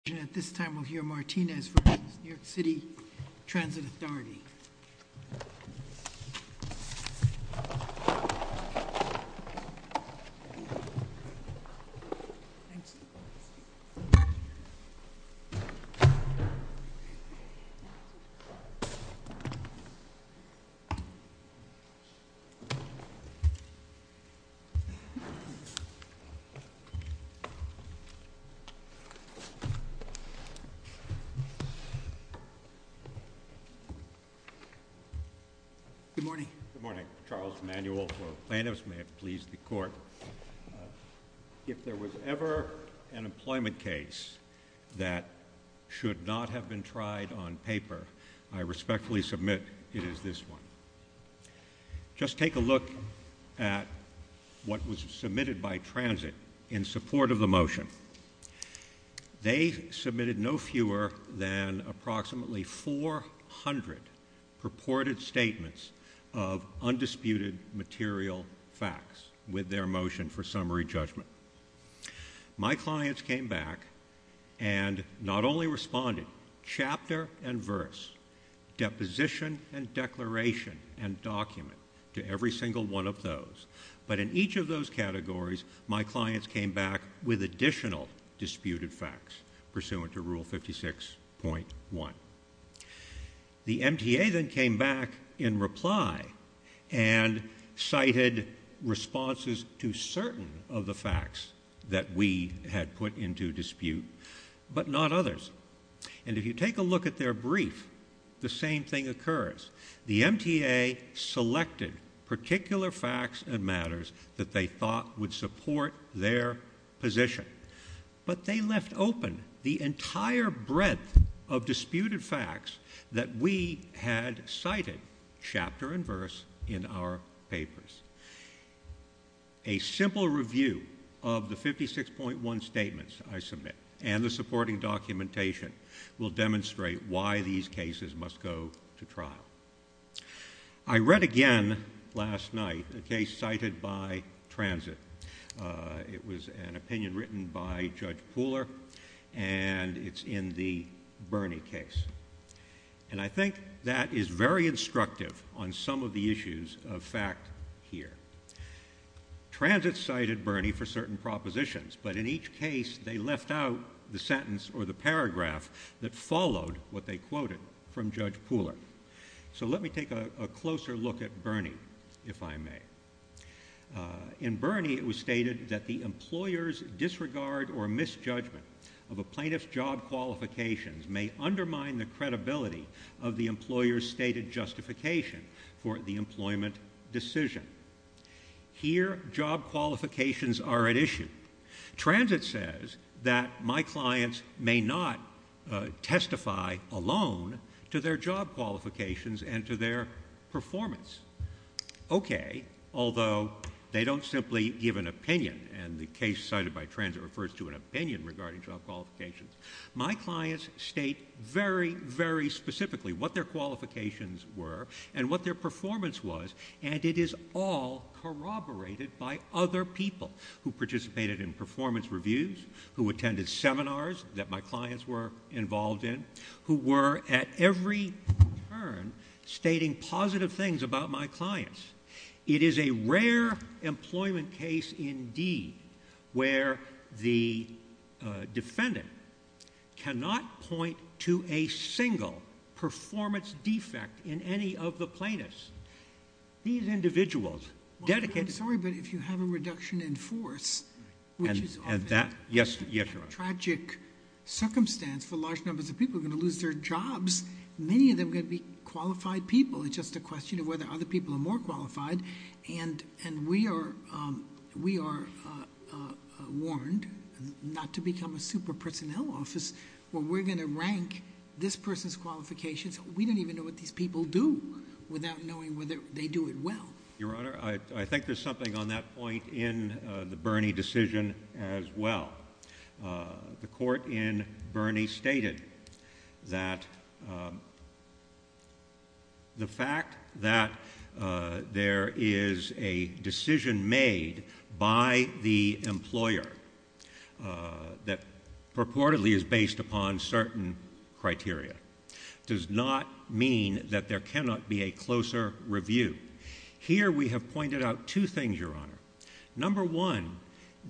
teeniers in New York City as Lou lost connection. At this time we will hear Martinez from New York City transit authority. Good morning, I'm Charles Emanuel. If there was ever an employment case that should not have been tried on paper, I respectfully submit it is this one. Just take a look at what was submitted by transit in support of the motion. They submitted no fewer than approximately 400 purported statements of undisputed material facts with their motion for summary judgment. My clients came back and not only responded chapter and verse, deposition and declaration and document to every single one of those, but in each of those categories my clients came back with additional disputed facts pursuant to rule 56.1. The MTA then came back in reply and cited responses to certain of the facts that we had put into dispute, but not others. And if you take a look at their brief, the same thing occurs. The MTA selected particular facts and matters that they thought would support their position. But they left open the entire breadth of disputed facts that we had cited chapter and verse in our papers. A simple review of the 56.1 statements I submit and the supporting documentation will demonstrate why these cases must go to trial. I read again last night a case cited by transit. It was an opinion written by judge pooler and it's in the Bernie case. And I think that is very instructive on some of the issues of fact here. Transit cited Bernie for certain propositions, but in each case they left out the sentence or the paragraph that followed what they quoted from judge pooler. So let me take a closer look at this. This is a statement that was made. In Bernie it was stated that the employer's disregard or misjudgment of a plaintiff's job qualifications may undermine the credibility of the employer's stated justification for the employment decision. Here job qualifications are at issue. Transit says that my clients may not testify alone to their job qualifications and to their performance. Okay. Although they don't simply give an opinion and the case cited by transit refers to an opinion regarding job qualifications. My clients state very, very specifically what their qualifications were and what their performance was and it is all corroborated by other people who participated in performance reviews, who attended seminars that my clients were involved in and who were at every turn stating positive things about my clients. It is a rare employment case indeed where the defendant cannot point to a single performance defect in any of the plaintiffs. These individuals dedicated... I'm sorry, but if you have a reduction in force, which is often a tragic circumstance for large numbers of people who are going to lose their jobs, many of them are going to be qualified people. It's just a question of whether other people are more qualified and we are warned not to become a super personnel office where we're going to rank this person's qualifications. We don't even know what these people do without knowing whether they do it well. Your Honor, I think there's something on that point in the Bernie decision as well. The court in Bernie stated that the fact that there is a decision made by the employer that purportedly is based upon certain criteria does not mean that there cannot be a closer review. Here we have pointed out two things, Your Honor. Number one,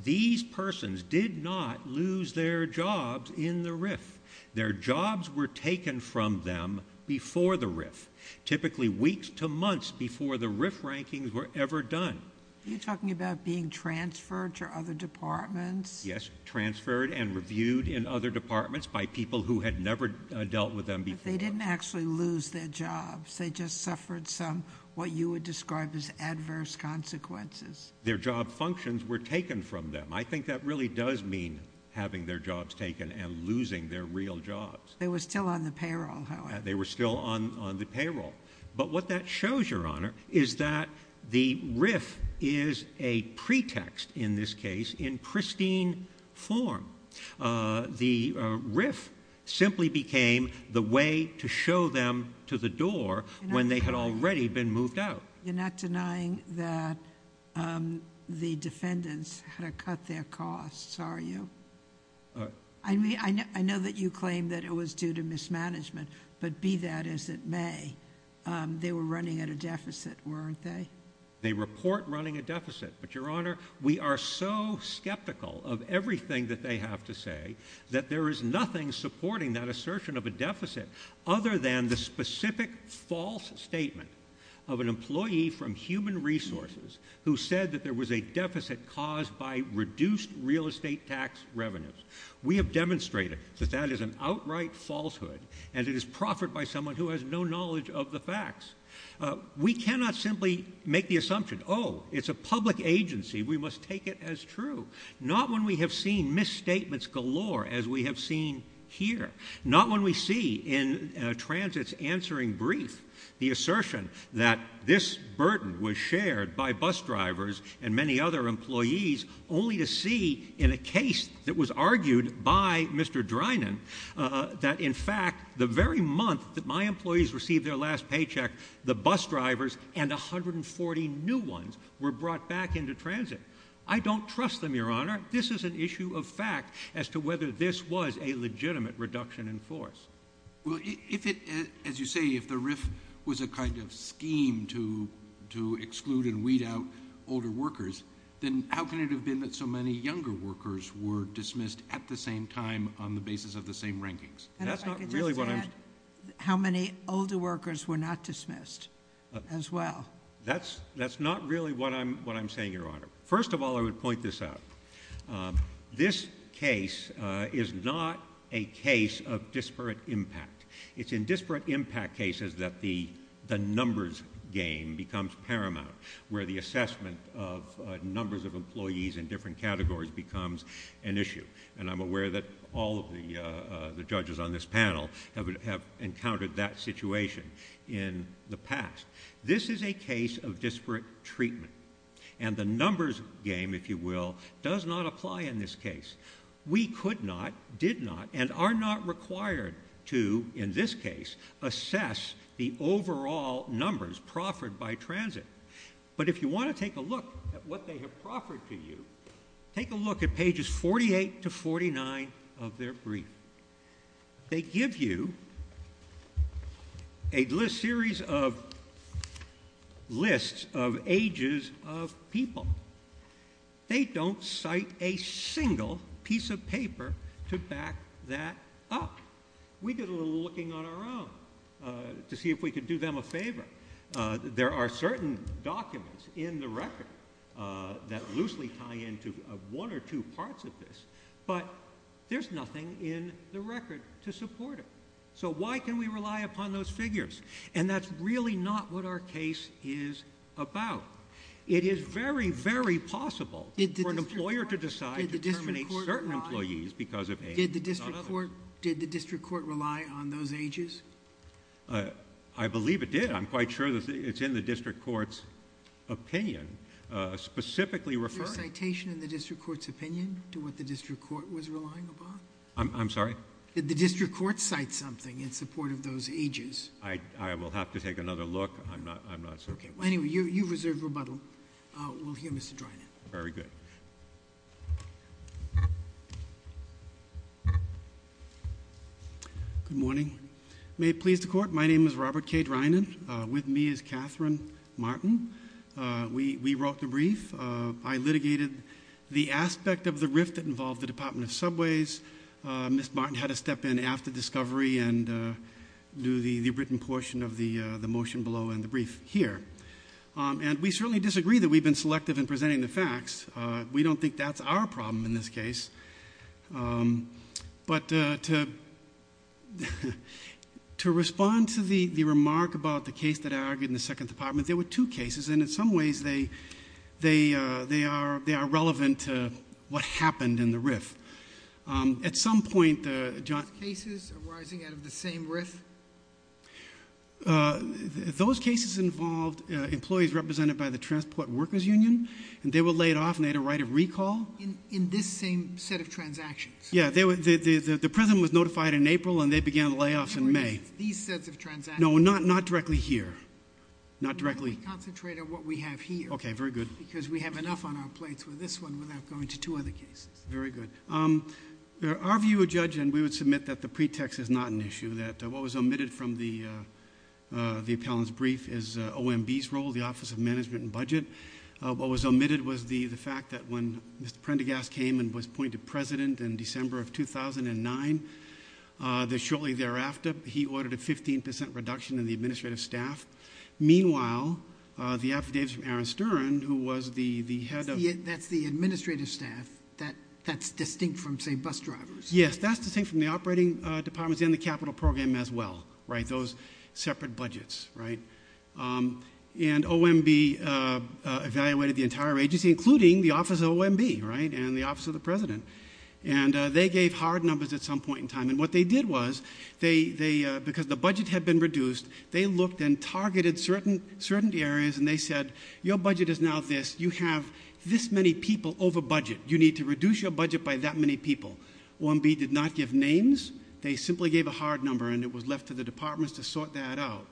these persons did not lose their jobs in the RIF. Their jobs were taken from them before the RIF, typically weeks to months before the RIF rankings were ever done. Are you talking about being transferred to other departments? Yes, transferred and reviewed in other departments by people who had never dealt with them before. But they didn't actually lose their jobs. They just suffered some what you would describe as adverse consequences. Their job functions were taken from them. I think that really does mean having their jobs taken and losing their real jobs. They were still on the payroll, however. They were still on the payroll. But what that shows, Your Honor, is that the RIF is a pretext in this case in pristine form. The RIF simply became the way to show them to the door when they had already been moved out. You're not denying that the No. Okay. And you're not denying that they were running at their costs, are you? I know that you claim that it was due to mismanagement, but be that as it may, they were running at a deficit, weren't they? They report running a deficit. But, Your Honor, we are so skeptical of everything that they have to say that there is nothing supporting that assertion of a deficit other than the specific false statement of an employee from Human Resources who said that there was a deficit caused by reduced real estate tax revenues. We have demonstrated that that is an outright falsehood, and it is proffered by someone who has no knowledge of the facts. We cannot simply make the assumption, oh, it's a public agency, we must take it as true. Not when we have seen misstatements galore as we have seen here. Not when we see in transit's answering brief the assertion that this burden was shared by bus drivers and many other employees, only to see in a case that was argued by Mr. Drinan that, in fact, the very month that my employees received their last paycheck, the bus drivers and 140 new ones were brought back into transit. I don't trust them, Your Honor. This is an issue of fact as to whether this was a legitimate reduction in force. Well, as you say, if the RIF was a kind of scheme to exclude and weed out older workers, then how can it have been that so many younger workers were dismissed at the same time on the basis of the same rankings? That's not really what I'm saying. How many older workers were not dismissed as well? That's not really what I'm saying, Your Honor. First of all, I would point this out. This case is not a case of disparate impact. It's in disparate impact cases that the numbers game becomes paramount, where the assessment of numbers of employees in different categories becomes an issue. And I'm aware that all of the judges on this panel have the past. This is a case of disparate treatment. And the numbers game, if you will, does not apply in this case. We could not, did not, and are not required to, in this case, assess the overall numbers proffered by transit. But if you want to take a look at what they have proffered to you, take a look at pages 48 to 49 of their brief. They give you a series of lists of ages of people. They don't cite a single piece of paper to back that up. We did a little looking on our own to see if we could do them a favor. There are certain documents in the record that loosely tie into one or two parts of this, but there's nothing in the record to support it. So why can we rely upon those figures? And that's really not what our case is about. It is very, very possible for an employer to decide to terminate certain employees because of age. Not others. Did the district court rely on those ages? I believe it did. I'm quite sure it's in the district court's opinion specifically referring. Is there a citation in the district court's opinion to what the district court was relying upon? I'm sorry? Did the district court cite something in support of those ages? I will have to take another look. I'm not certain. Anyway, you have reserved rebuttal. We'll hear Mr. Drinan. Very good. Good morning. May it please the court, my name is Robert K. Drinan. With me is Catherine Martin. We wrote the brief. I litigated the aspect of the rift that involved the department of subways. Ms. Martin had to step in after discovery and do the written portion of the motion below and I'm going to read the brief here. And we certainly disagree that we've been selective in presenting the facts. We don't think that's our problem in this case. But to respond to the remark about the case that I argued in the second department, there were two cases and in some ways they are relevant to what happened in the rift. At some point... Those cases arising out of the same rift? Those cases involved employees represented by the transport workers union and they were laid off and they had a right of recall. In this same set of transactions? Yeah. The president was notified in April and they began layoffs in May. These sets of transactions? Not directly here. Not directly... Concentrate on what we have here. Okay. Very good. Because we have enough on our plates with this one without going to two other cases. Very good. Our view of judgment, we would submit that the pretext is not an issue. It is an issue that what was omitted from the appellant's brief is OMB's role, the office of management and budget. What was omitted was the fact that when Mr. Prendergast came and was appointed president in December of 2009, that shortly thereafter, he ordered a 15% reduction in the administrative staff. Meanwhile, the affidavits from Aaron Stern, who was the head of... That's the administrative staff that's distinct from, say, bus drivers? Yes. That's distinct from the administrative staff. And it was a separate capital program as well. Those separate budgets. Right? And OMB evaluated the entire agency, including the office of OMB and the office of the president. And they gave hard numbers at some point in time. And what they did was, because the budget had been reduced, they looked and targeted certain areas and they said, your budget is now this. You have this many people overbudget. You need to reduce your budget by that many people. OMB did not give names. They simply gave a hard number and it was left to the departments to sort that out.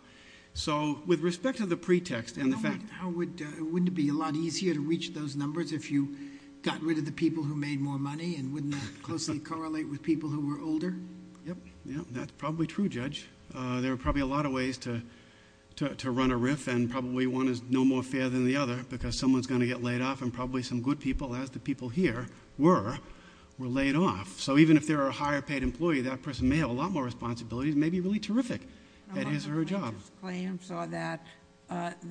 So with respect to the pretext and the fact... Wouldn't it be a lot easier to reach those numbers if you got rid of the people who made more money and wouldn't that closely correlate with people who were older? Yep. That's probably true, judge. There are probably a lot of ways to run a riff and probably one is no more fair than the other because someone is going to get laid off and probably some good people, as the people here were, were laid off. So even if there are higher paid employees, that person may have a lot more responsibilities and may be really terrific at his or her job. The claim saw that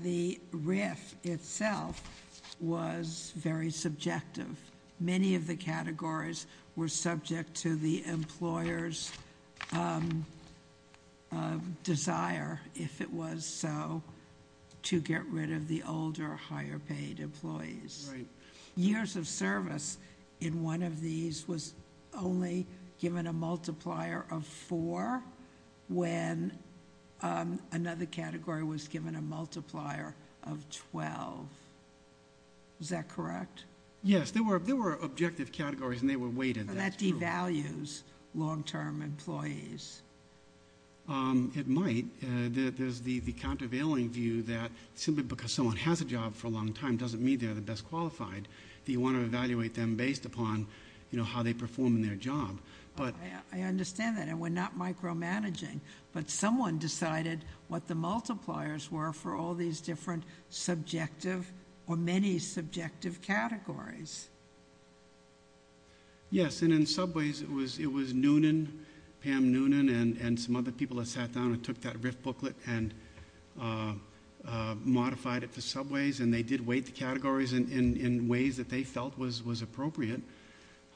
the riff itself was very subjective. Many of the categories were subject to the employer's desire, if it was so, to get rid of the older, higher paid employees. Years of service in one of these was only given a multiplier of four when another category was given a multiplier of 12. Is that correct? Yes. There were objective categories and they were weighted. That devalues long-term employees. It might. There's the countervailing view that simply because someone has a job for a long time doesn't mean they're the best qualified. You want to evaluate them based upon how they perform in their job. I understand that. And we're not micromanaging. But someone decided what the multipliers were for all these different subjective or many subjective categories. Yes. And in subways, it was noonan, Pam noonan and some other people that sat down and took that riff booklet and modified it for subways and they did weight the categories in ways that they thought was appropriate.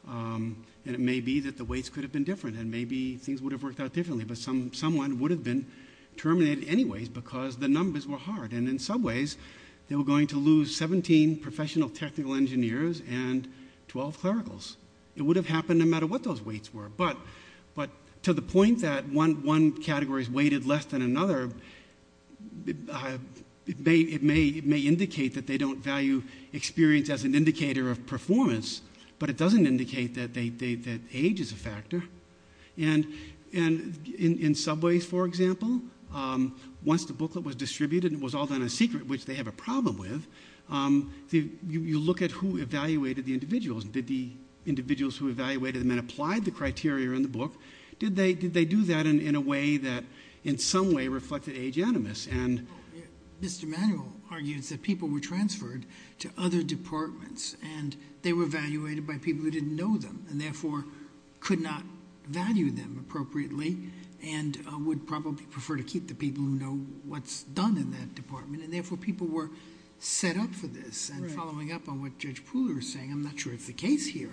And it may be that the weights could have been different and maybe things would have worked out differently. But someone would have been terminated anyways because the numbers were hard. And in subways, they were going to lose 17 professional technical engineers and 12 clericals. It would have happened no matter what those weights were. But to the point that one category is weighted less than another, it may indicate that they don't value experience as an influence, but it doesn't indicate that age is a factor. And in subways, for example, once the booklet was distributed and it was all done in secret, which they have a problem with, you look at who evaluated the individuals. Did the individuals who evaluated them and applied the criteria in the book, did they do that in a way that in some way reflected age animus? Mr. Manuel argues that people were transferred to other departments and evaluated by people who didn't know them and therefore could not value them appropriately and would probably prefer to keep the people who know what's done in that department and therefore people were set up for this and following up on what judge Pooler is saying. I'm not sure it's the case here.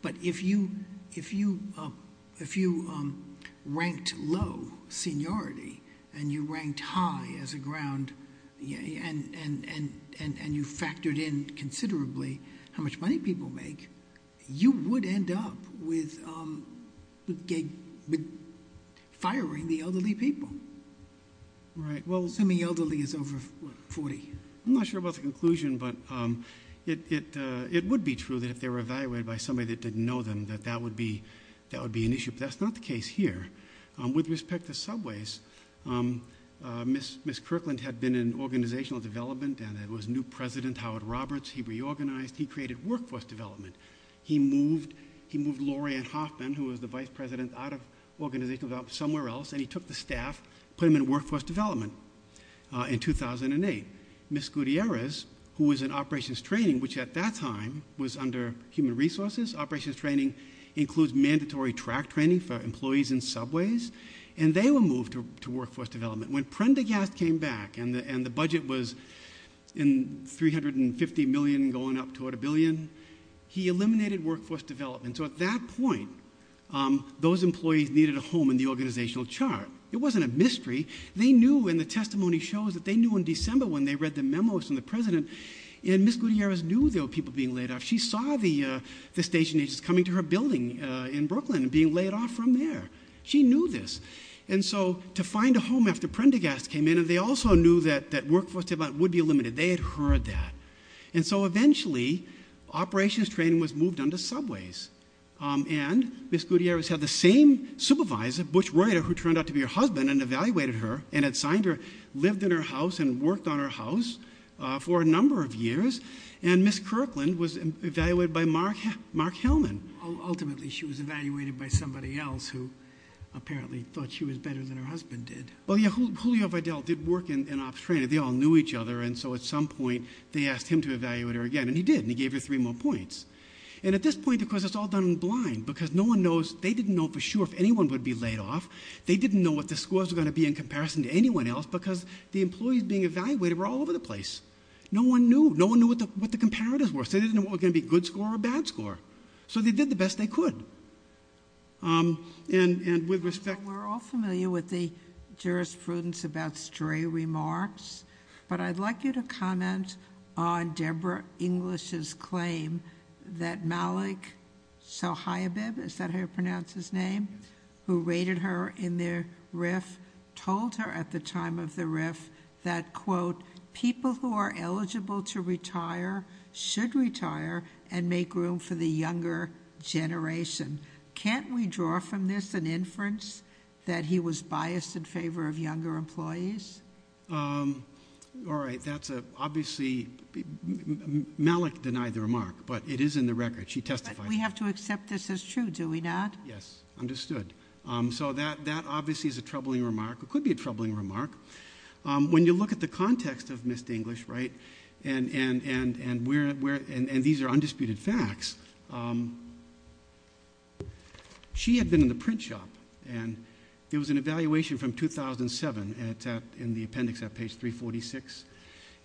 But if you ranked low seniority and you ranked high as a ground and you factored in considerably how much money people make, you would end up with firing the elderly people. Assuming elderly is over 40. I'm not sure about the conclusion but it would be true that if they were evaluated by somebody that didn't know them that that would be an issue. That's not the case here. With respect to subways, miss Kirkland had been in organizational development and was new president Howard Roberts. He reorganized. He created workforce development. He moved Laurie Hoffman who was the vice president out of organizational development somewhere else and he took the staff, put them in workforce development in 2008. Miss Gutierrez who was in operations training which at that time was under human resources, operations training includes mandatory track training for employees in subways and they were moved to workforce development. When Prendergast came back and the budget was $350 million going up toward a billion, he eliminated workforce development. At that point those employees needed a home in the organizational chart. It wasn't a mystery. They knew and the testimony shows they knew in December when they read the memos from the president and miss Gutierrez knew there were people being laid off. She saw the station agents coming to her building in Brooklyn and being laid off from there. She knew this. So to find a home after Prendergast came in and they also knew that workforce development would be limited. They had heard that. And so eventually operations training was moved on to subways. And miss Gutierrez had the same supervisor who turned out to be her husband and evaluated her and had signed her, lived in her house and worked on her house for a number of years and miss Kirkland was evaluated by mark Hellman. Ultimately she was evaluated by somebody else who apparently thought she was better than her husband did. They all knew each other and so at some point they asked him to evaluate her again and he did and he gave her three more points. And at this point it's all done in blind because no one knows, they didn't know for sure if anyone would be laid off. They didn't know what the scores were going to be in comparison to anyone else because the employees being evaluated were all over the place. No one knew. No one knew what the comparatives were. They didn't know what was going to be a good score or a bad score. So they did the best they could. And with respect... We're all familiar with the jurisprudence about stray remarks. But I'd like you to comment on Debra English's claim that Malik Sohaibab, is that how you pronounce his name, who raided her in the RIF told her at the time of the RIF that, quote, people who are eligible to retire should retire and make room for the younger generation. Can't we draw from this an assumption that he was biased in favor of younger employees? All right. That's obviously Malik denied the remark. But it is in the record. She testified. But we have to accept this as true, do we not? Yes. Understood. So that obviously is a troubling remark. It could be a troubling remark. When you look at the context of Ms. English, right, and these are undisputed facts, she had been in the print shop. And there was an evaluation from 2007 in the appendix at page 346.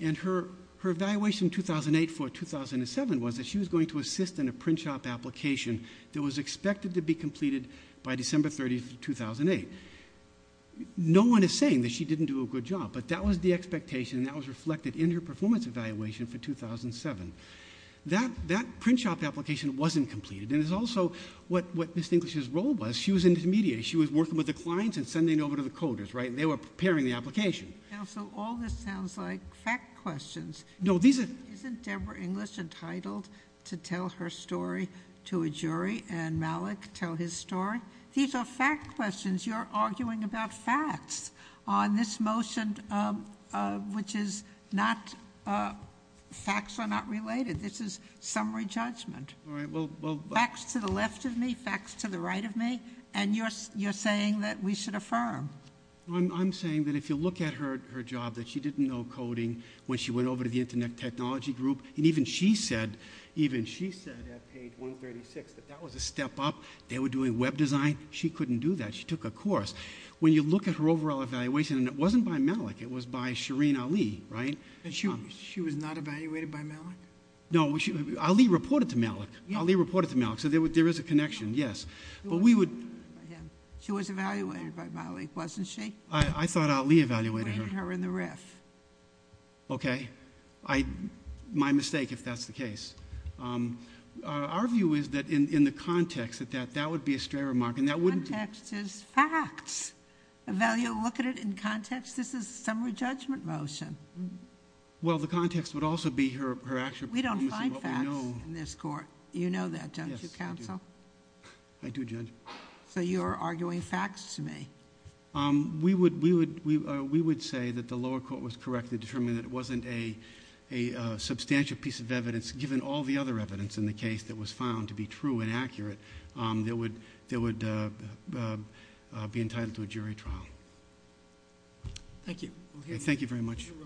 And her evaluation in 2008 for 2007 was that she was going to assist in a print shop application that was expected to be completed by December 30th, 2008. No one is saying that she didn't do a good job. But that was the expectation that was reflected in her performance evaluation for 2007. That print shop application wasn't completed. And it's also what Ms. English's role was. She was an intermediary. She was working with the clients and sending over to the coders. They were preparing the application. Counsel, all this sounds like fact questions. Isn't Debra English entitled to tell her story to a jury and Malik tell his story? These are fact questions. You're arguing about facts on this motion which is not facts are not related. This is summary judgment. Facts to the left of me, facts to the right of me. And you're saying that we should affirm. I'm saying that if you look at her job that she didn't know coding when she went over to the internet technology group and even she said at page 136 that that was a step up. They were doing web design. She couldn't do that. She took a course. When you look at her overall evaluation, it wasn't by Malik. It was by Shireen Ali. She was not evaluated by Malik? No. Ali reported to Malik. So there is a connection, yes. She was evaluated by Malik, wasn't she? I thought Ali evaluated her. Okay. My mistake if that's the case. Our view is that in the context that that would be a stray remark. Context is facts. Look at it in context. This is a summary judgment motion. Well, the context would also be her action. We don't find facts in this court. You know that, don't you, counsel? I do, judge. So you are arguing facts to me? We would say that the lower court was correct in determining that it wasn't a substantial piece of evidence given all the other evidence in the case that was found to be true and accurate that would be entitled to a jury trial. Thank you. Thank you very much. Thank you.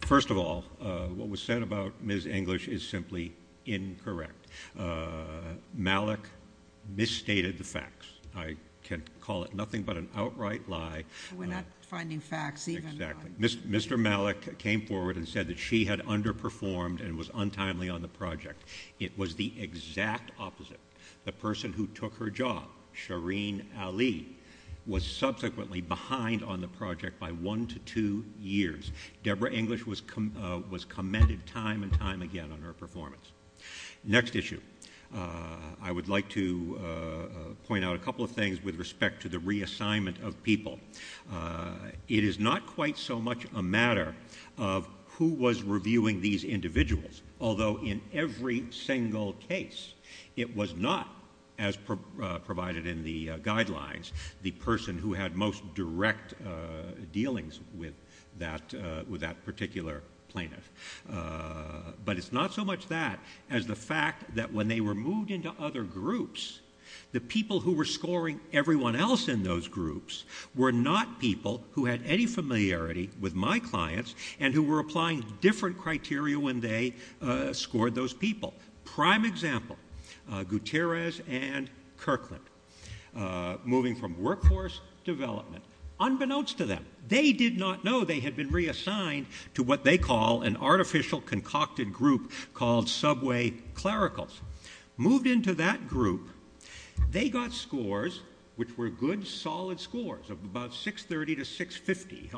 First of all, what was said about Ms. English is simply incorrect. Malik misstated the facts. I can call it nothing but an outright lie. We are not finding facts even. Mr. Malik came forward and said that she had underperformed and was untimely on the project. It was the exact opposite. The person who took her job, Shireen Ali, was subsequently behind on the project by one to two years. Deborah English was commended time and time again on her performance. Next issue. I would like to point out a couple of things with respect to the reassignment of people. It is not quite so much a matter of who was reviewing these individuals, although in every single case it was not, as provided in the guidelines, the person who had most direct dealings with that particular plaintiff. But it is not so much that as the fact that when they were moved into other groups, the people who were scoring everyone else in those groups were not people who had any familiarity with my clients and who were applying different criteria when they scored those people. Prime example, Gutierrez and Kirkland. Moving from workforce development. Unbeknownst to them, they did not know they had been reassigned to what they call an artificial concocted group called subway clericals. Moved into that group, they got scores which were good solid scores of about 630 to 650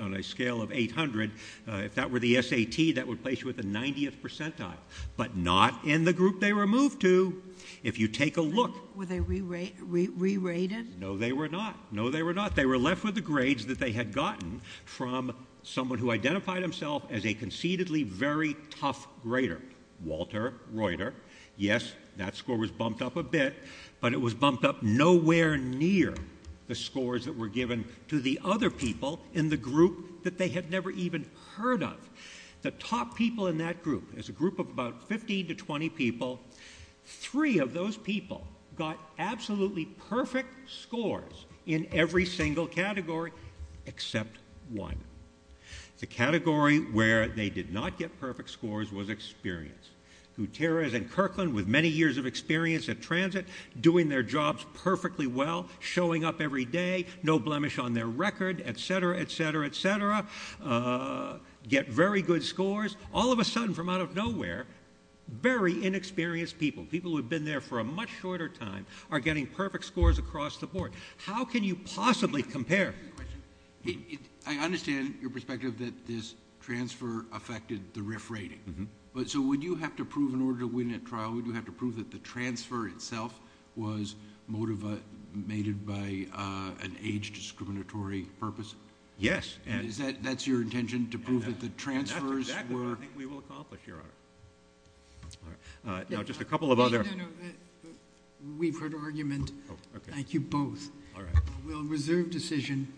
on a scale of 800. If that were the SAT, that would place you at the 90th percentile but not in the group they were moved to. If you take a look... Were they re-rated? No, they were not. No, they were not. They were left with the grades that they had gotten from someone who identified himself as a conceitedly very tough grader, Walter Reuter. Yes, that score was bumped up a bit, but it was bumped up nowhere near the scores that were given to the other people in the group that they had never even heard of. The top people in that group is a group of about 15 to 20 people. Three of those people got absolutely perfect scores in every single category except one. The category where they did not get perfect scores was experience. Gutierrez and Kirkland, with many years of experience at transit, doing their jobs perfectly well, showing up every day, no blemish on their record, et cetera, et cetera, et cetera, get very good scores. All of a sudden, from out of nowhere, very inexperienced people, people who have been there for a much shorter time, are getting perfect scores across the board. How can you possibly compare? I understand your perspective that this transfer affected the RIF rating, but so would you have to prove in order to win a trial, would you have to prove that the transfer itself was motivated by an age discriminatory purpose? Yes. That's your intention, to prove that the transfers were? That's exactly what I think we will accomplish, your honor. All right. Now, just a couple of other No, no, no. We've heard argument. Thank you both. All right. We'll reserve decision.